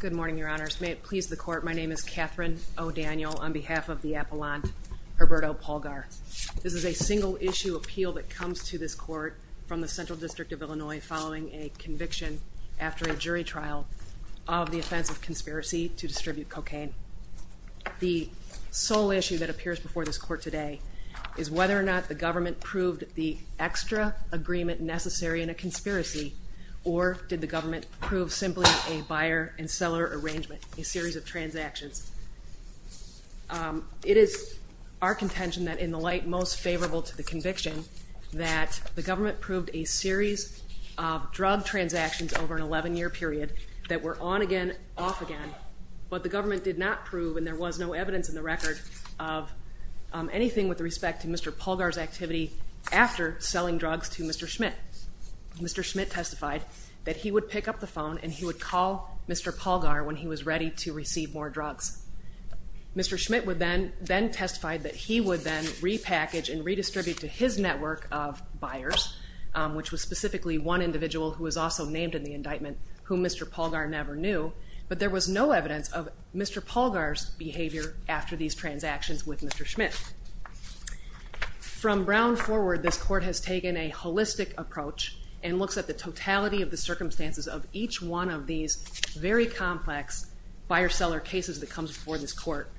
Good morning, your honors. May it please the court, my name is Katherine O'Daniel on behalf of the Appellant Herberto Pulgar. This is a single-issue appeal that comes to this court from the Central District of Illinois following a conviction after a jury trial of the offense of conspiracy to distribute cocaine. The sole issue that appears before this court today is whether or not the government proved the extra agreement necessary in a conspiracy or did the government prove simply a buyer and seller arrangement, a series of transactions. It is our contention that in the light most favorable to the conviction that the government proved a series of drug transactions over an 11 year period that were on again, off again, but the government did not prove and there was no evidence in the record of anything with respect to Mr. Pulgar's that he would pick up the phone and he would call Mr. Pulgar when he was ready to receive more drugs. Mr. Schmidt would then, then testified that he would then repackage and redistribute to his network of buyers, which was specifically one individual who was also named in the indictment whom Mr. Pulgar never knew, but there was no evidence of Mr. Pulgar's behavior after these transactions with Mr. Schmidt. From Brown forward this court has taken a holistic approach and circumstances of each one of these very complex buyer-seller cases that comes before this court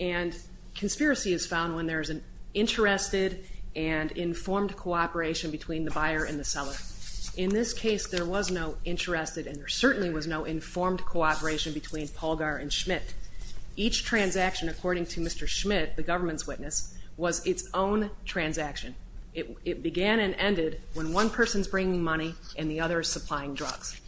and conspiracy is found when there is an interested and informed cooperation between the buyer and the seller. In this case there was no interested and there certainly was no informed cooperation between Pulgar and Schmidt. Each transaction according to Mr. Schmidt, the government's witness, was its own transaction. It began and ended when one person's bringing money and the other is supplying drugs.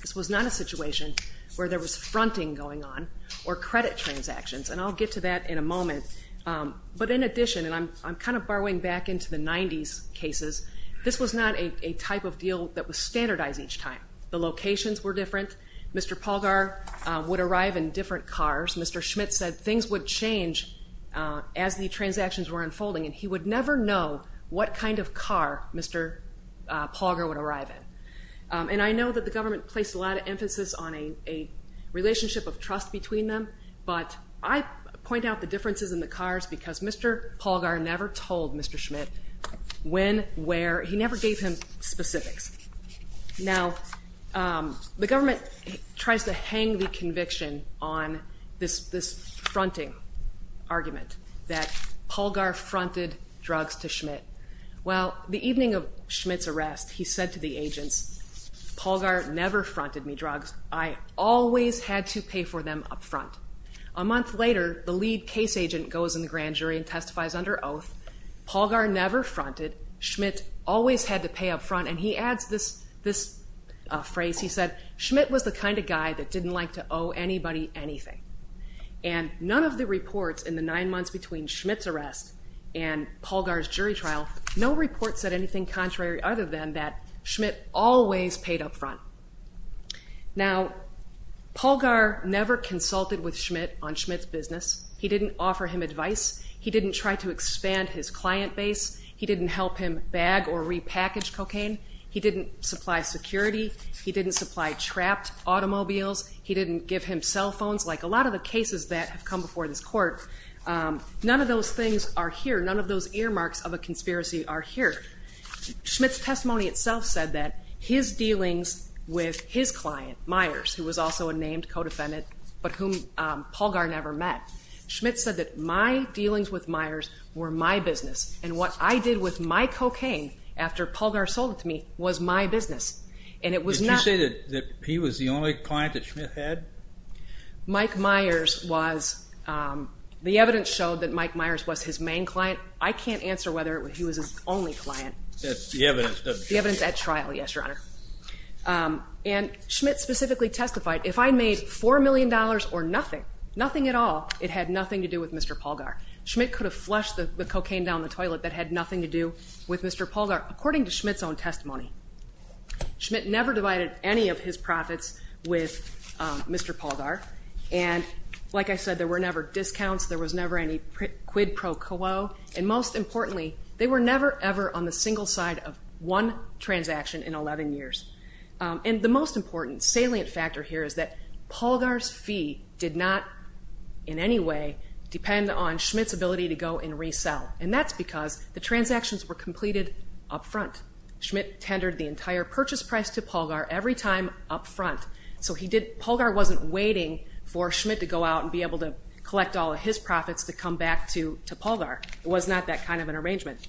This was not a situation where there was fronting going on or credit transactions and I'll get to that in a moment, but in addition, and I'm kind of borrowing back into the 90s cases, this was not a type of deal that was standardized each time. The locations were different. Mr. Pulgar would arrive in different cars. Mr. Schmidt said things would change as the transactions were unfolding and he would never know what kind of car Mr. Pulgar would arrive in. And I know that the government placed a lot of emphasis on a relationship of trust between them, but I point out the differences in the cars because Mr. Pulgar never told Mr. Schmidt when, where, he never gave him specifics. Now the government tries to hang the conviction on this fronting argument that Pulgar fronted drugs to Schmidt. Well, the evening of Schmidt's arrest, he said to the agents, Pulgar never fronted me drugs. I always had to pay for them up front. A month later, the lead case agent goes in the grand jury and testifies under oath. Pulgar never fronted. Schmidt always had to pay up front and he adds this phrase, he said, Schmidt was the kind of guy that didn't like to owe anybody anything. And none of the reports in the nine months between Schmidt's arrest and Pulgar's jury trial, no report said anything contrary other than that Schmidt always paid up front. Now, Pulgar never consulted with Schmidt on Schmidt's business. He didn't offer him advice. He didn't try to expand his client base. He didn't help him bag or repackage cocaine. He didn't supply security. He didn't supply trapped automobiles. He didn't give him cell phones. Like a lot of the cases that have come before this court, none of those things are here. None of those earmarks of a conspiracy are here. Schmidt's testimony itself said that his dealings with his client, Myers, who was also a named co-defendant, but whom Pulgar never met. Schmidt said that my dealings with Myers were my business and what I did with my cocaine after Pulgar sold it to me was my business. And it was not... Did you say that he was the only client that Schmidt had? Mike Myers was... the evidence showed that Mike Myers was his main client. I can't answer whether he was his only client. That's the evidence. The evidence at trial, yes, Your Honor. And Schmidt specifically testified, if I made four million dollars or nothing, nothing at all, it had nothing to do with Mr. Pulgar. Schmidt could have flushed the cocaine down the toilet that had nothing to do with Mr. Pulgar, according to Schmidt's own testimony. Schmidt never divided any of his profits with Mr. Pulgar and, like I said, there were never discounts, there was never any quid pro quo, and most importantly, they were never ever on the single side of one transaction in 11 years. And the most important salient factor here is that Pulgar's fee did not in any way depend on Schmidt's ability to go and resell. And that's because the transactions were completed up front. Schmidt tendered the entire purchase price to Pulgar every time up front. So he did... Pulgar wasn't waiting for Schmidt to go out and be able to collect all of his profits to come back to Pulgar. It was not that kind of an arrangement.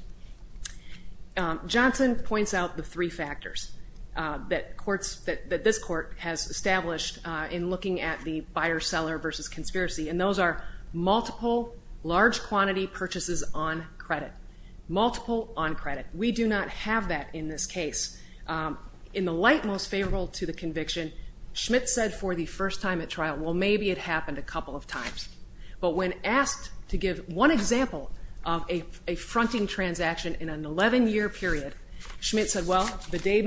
Johnson points out the three factors that courts... that this court has established in looking at the buyer-seller versus conspiracy, and those are multiple large-quantity purchases on credit. Multiple on credit. We do not have that in this case. In the light most favorable to the conviction, Schmidt said for the first time at trial, well maybe it happened a couple of times. But when asked to give one example of a fronting transaction in an 11-year period, Schmidt said, well, the day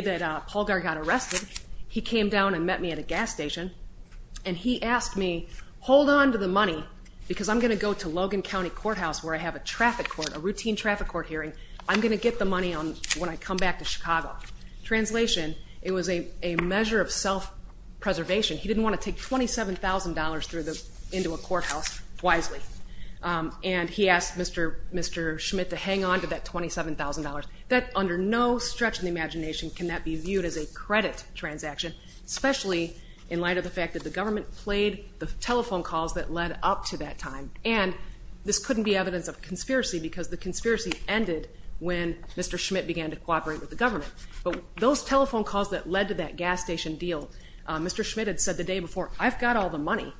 that Pulgar got arrested, he came down and met me at a gas station and he asked me, hold on to the money because I'm going to go to Logan County Courthouse where I have a traffic court, a routine traffic court hearing. I'm going to get the money when I come back to Chicago. Translation, it was a measure of self-preservation. He didn't want to take $27,000 through the... into a courthouse, wisely. And he asked Mr. Schmidt to hang on to that $27,000. That, under no stretch of the imagination, can that be viewed as a credit transaction, especially in light of the fact that the government played the telephone calls that led up to that time. And this couldn't be evidence of conspiracy because the conspiracy ended when Mr. Schmidt began to cooperate with the government. But those telephone calls that led to that gas station deal, Mr. Schmidt had said the day before, I've got all the money.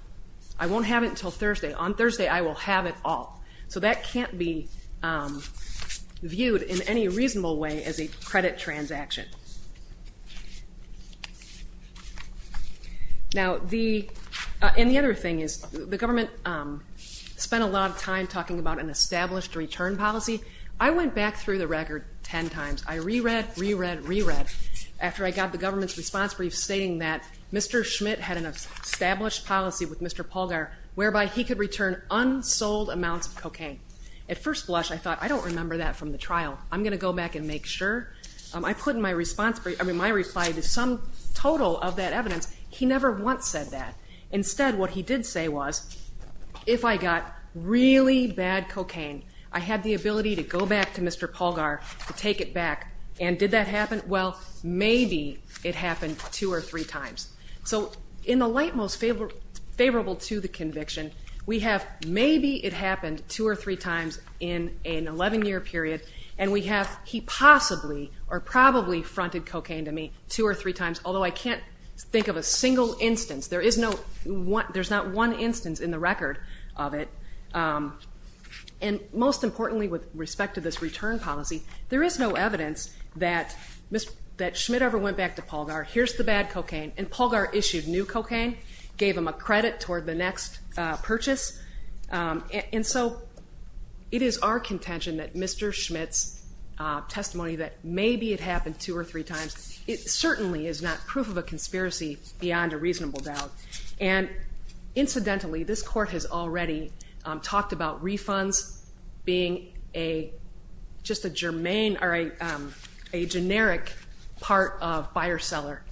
I won't have it until Thursday. On Thursday, I will have it all. So that can't be viewed in any reasonable way as a credit transaction. Now the... and the other thing is, the government spent a lot of time talking about an established return policy. I went back through the record 10 times. I reread, reread, reread, after I got the government's response brief stating that Mr. Schmidt had an established policy with Mr. Polgar whereby he could return unsold amounts of cocaine. At first blush, I thought, I don't remember that from the trial. I'm gonna go back and make sure. I put in my response brief... I mean, my reply to some total of that evidence. He never once said that. Instead, what he did say was, if I got really bad cocaine, I had the ability to go back to Mr. Polgar to take it back. And did that happen? Well, maybe it happened two or three times. So in the light most favorable to the conviction, we have maybe it happened two or three times in an 11-year period, and we have he possibly or probably fronted cocaine to me two or three times, although I can't think of a single instance. There is no one, there's not one instance in the record of it. And most importantly with respect to this return policy, there is no evidence that Schmidt ever went back to Polgar, here's the bad cocaine, and Polgar issued new cocaine, gave him a credit toward the next purchase. And so it is our contention that Mr. Schmidt's testimony that maybe it happened two or three times, it reasonable doubt. And incidentally, this court has already talked about refunds being a just a germane or a generic part of buyer-seller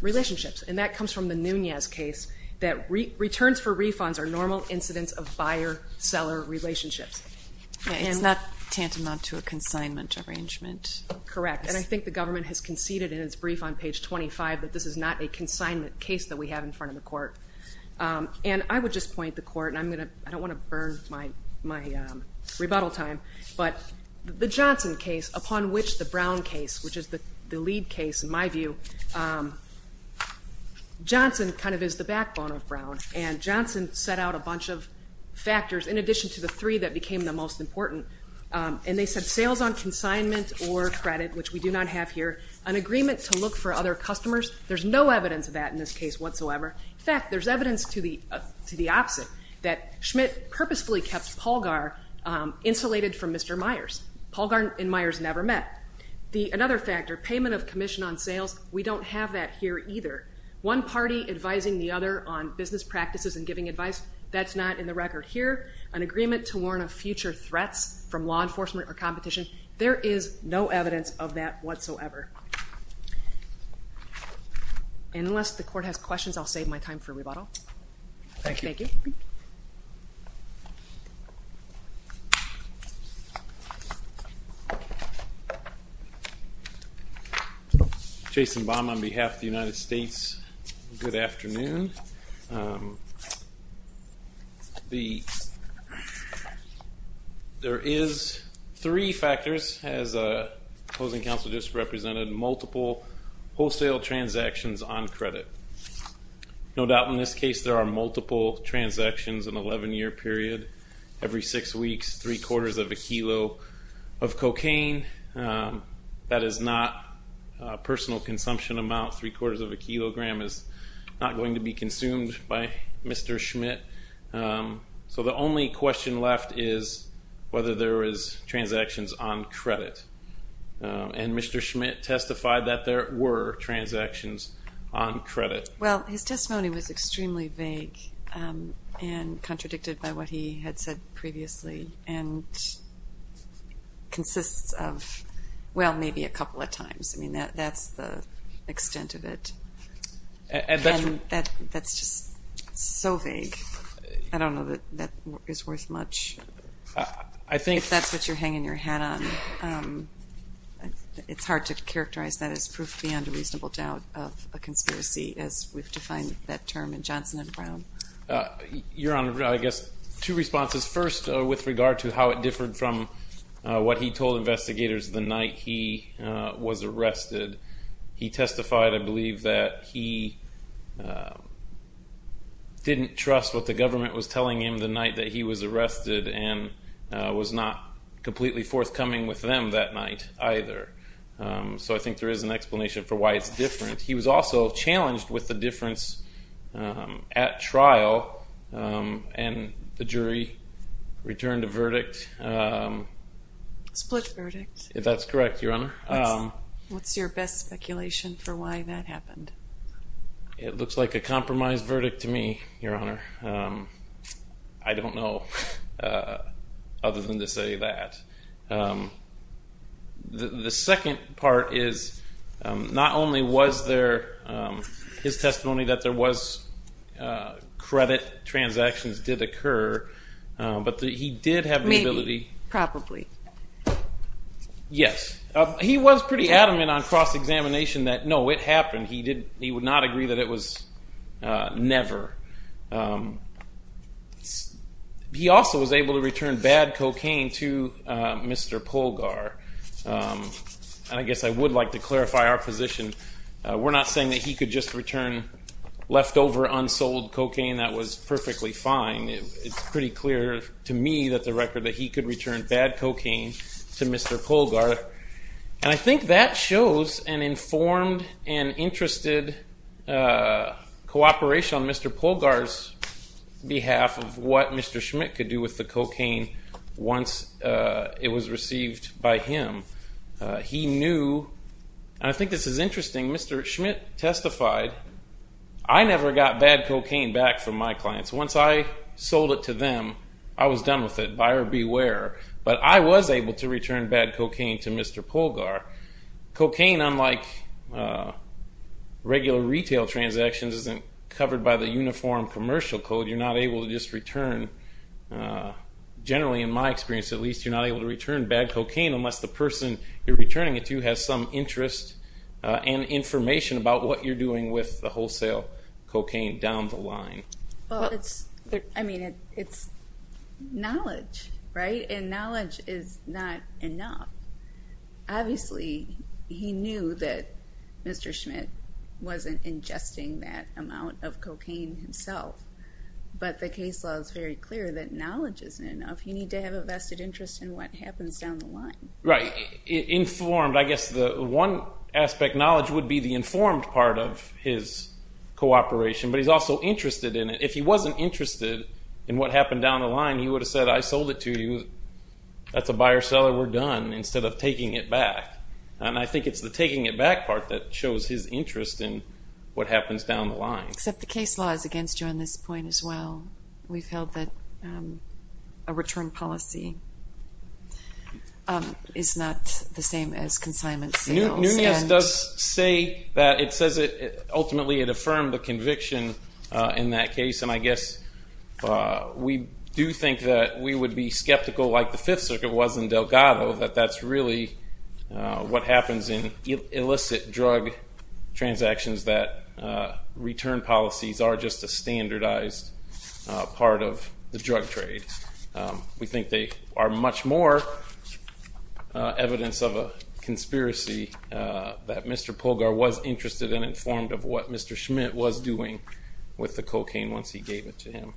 relationships, and that comes from the Nunez case, that returns for refunds are normal incidents of buyer-seller relationships. It's not tantamount to a consignment arrangement. Correct, and I think the government has conceded in its brief on page 25 that this is not a consignment case that we have in front of the court. And I would just point the court, and I'm going to, I don't want to burn my rebuttal time, but the Johnson case, upon which the Brown case, which is the lead case in my view, Johnson kind of is the backbone of Brown, and Johnson set out a bunch of factors in addition to the three that became the most important. And they said sales on consignment or credit, which we do not have here, an agreement to look for other customers. There's no evidence of that in this case whatsoever. In fact, there's evidence to the opposite, that Schmidt purposefully kept Paulgar insulated from Mr. Myers. Paulgar and Myers never met. Another factor, payment of commission on sales, we don't have that here either. One party advising the other on business practices and giving advice, that's not in the record here. An agreement to warn of future threats from law enforcement or competition, there is no evidence of that whatsoever. Unless the court has questions, I'll save my time for rebuttal. Thank you. Jason Baum on behalf of the United States, good afternoon. There is three factors, as opposing counsel just represented, multiple wholesale transactions on credit. No doubt in this case there are multiple transactions in 11-year period, every six weeks, three-quarters of a kilo of cocaine. That is not personal consumption amount, three-quarters of a kilogram is not going to be consumed by Mr. Schmidt. So the only question left is whether there is transactions on credit, and Mr. Schmidt testified that there were transactions on credit. Well his testimony was extremely vague and contradicted by what he had said previously and consists of, well maybe a couple of times, I mean that's the extent of it. That's just so vague, I think that's what you're hanging your hat on. It's hard to characterize that as proof beyond a reasonable doubt of a conspiracy as we've defined that term in Johnson and Brown. Your Honor, I guess two responses. First with regard to how it differed from what he told investigators the night he was arrested. He testified, I believe, that he didn't trust what the government was telling him the night that he was arrested and was not completely forthcoming with them that night either. So I think there is an explanation for why it's different. He was also challenged with the difference at trial and the jury returned a verdict. Split verdict. That's correct, Your Honor. What's your best speculation for why that happened? It looks like a compromised verdict to me, Your Honor. I don't know other than to say that. The second part is not only was there his testimony that there was credit transactions did occur, but that he did have the ability. Maybe, probably. Yes, he was pretty adamant on cross-examination that no, it happened. He would not agree that it was never. He also was able to return bad cocaine to Mr. Polgar. I guess I would like to clarify our position. We're not saying that he could just return leftover unsold cocaine that was perfectly fine. It's pretty clear to me that the record that he could return bad cocaine back from my clients. Once I sold it to them, I was done with it. Buyer regular retail transactions isn't covered by the uniform commercial code. You're not able to just return, generally in my experience at least, you're not able to return bad cocaine unless the person you're returning it to has some interest and information about what you're doing with the wholesale cocaine down the line. I mean, it's knowledge, right? And knowledge is not enough. Obviously, he knew that Mr. Schmidt wasn't ingesting that amount of cocaine himself, but the case law is very clear that knowledge isn't enough. You need to have a vested interest in what happens down the line. Right, informed. I guess the one aspect knowledge would be the informed part of his cooperation, but he's also interested in it. If he wasn't interested in what happened down the instead of taking it back, and I think it's the taking it back part that shows his interest in what happens down the line. Except the case law is against you on this point as well. We've held that a return policy is not the same as consignment sales. Nunez does say that it says it ultimately it affirmed the conviction in that case, and I guess we do think that we would be skeptical like the Fifth Circuit was in Delgado that that's really what happens in illicit drug transactions that return policies are just a standardized part of the drug trade. We think they are much more evidence of a conspiracy that Mr. Polgar was interested and informed of what Mr. Schmidt was doing with the cocaine once he gave it to him.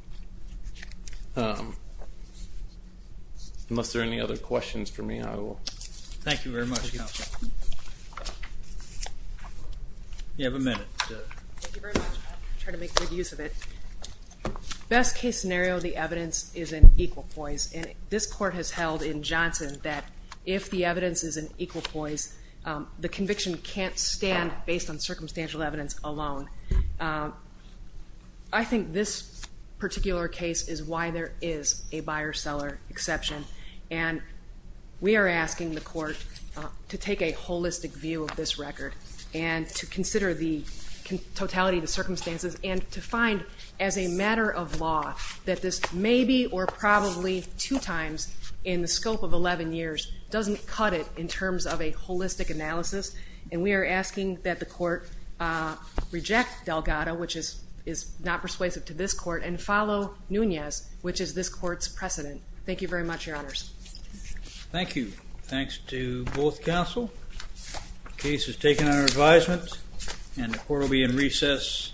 Unless there are any other questions for me I will. Thank you very much counsel. You have a minute. Thank you very much, I'll try to make good use of it. Best case scenario the evidence is an equal poise and this court has held in Johnson that if the evidence is an equal poise the conviction can't stand based on circumstantial evidence alone. I think this particular case is why there is a buyer-seller exception and we are asking the court to take a holistic view of this record and to consider the totality of the circumstances and to find as a matter of law that this maybe or probably two times in the scope of 11 years doesn't cut it in terms of a holistic analysis and we are asking that the court reject Delgado which is is not persuasive to this court and follow Nunez which is this court's precedent. Thank you very much your honors. Thank you. Thanks to both counsel. The case is taken under advisement and the court will be in recess.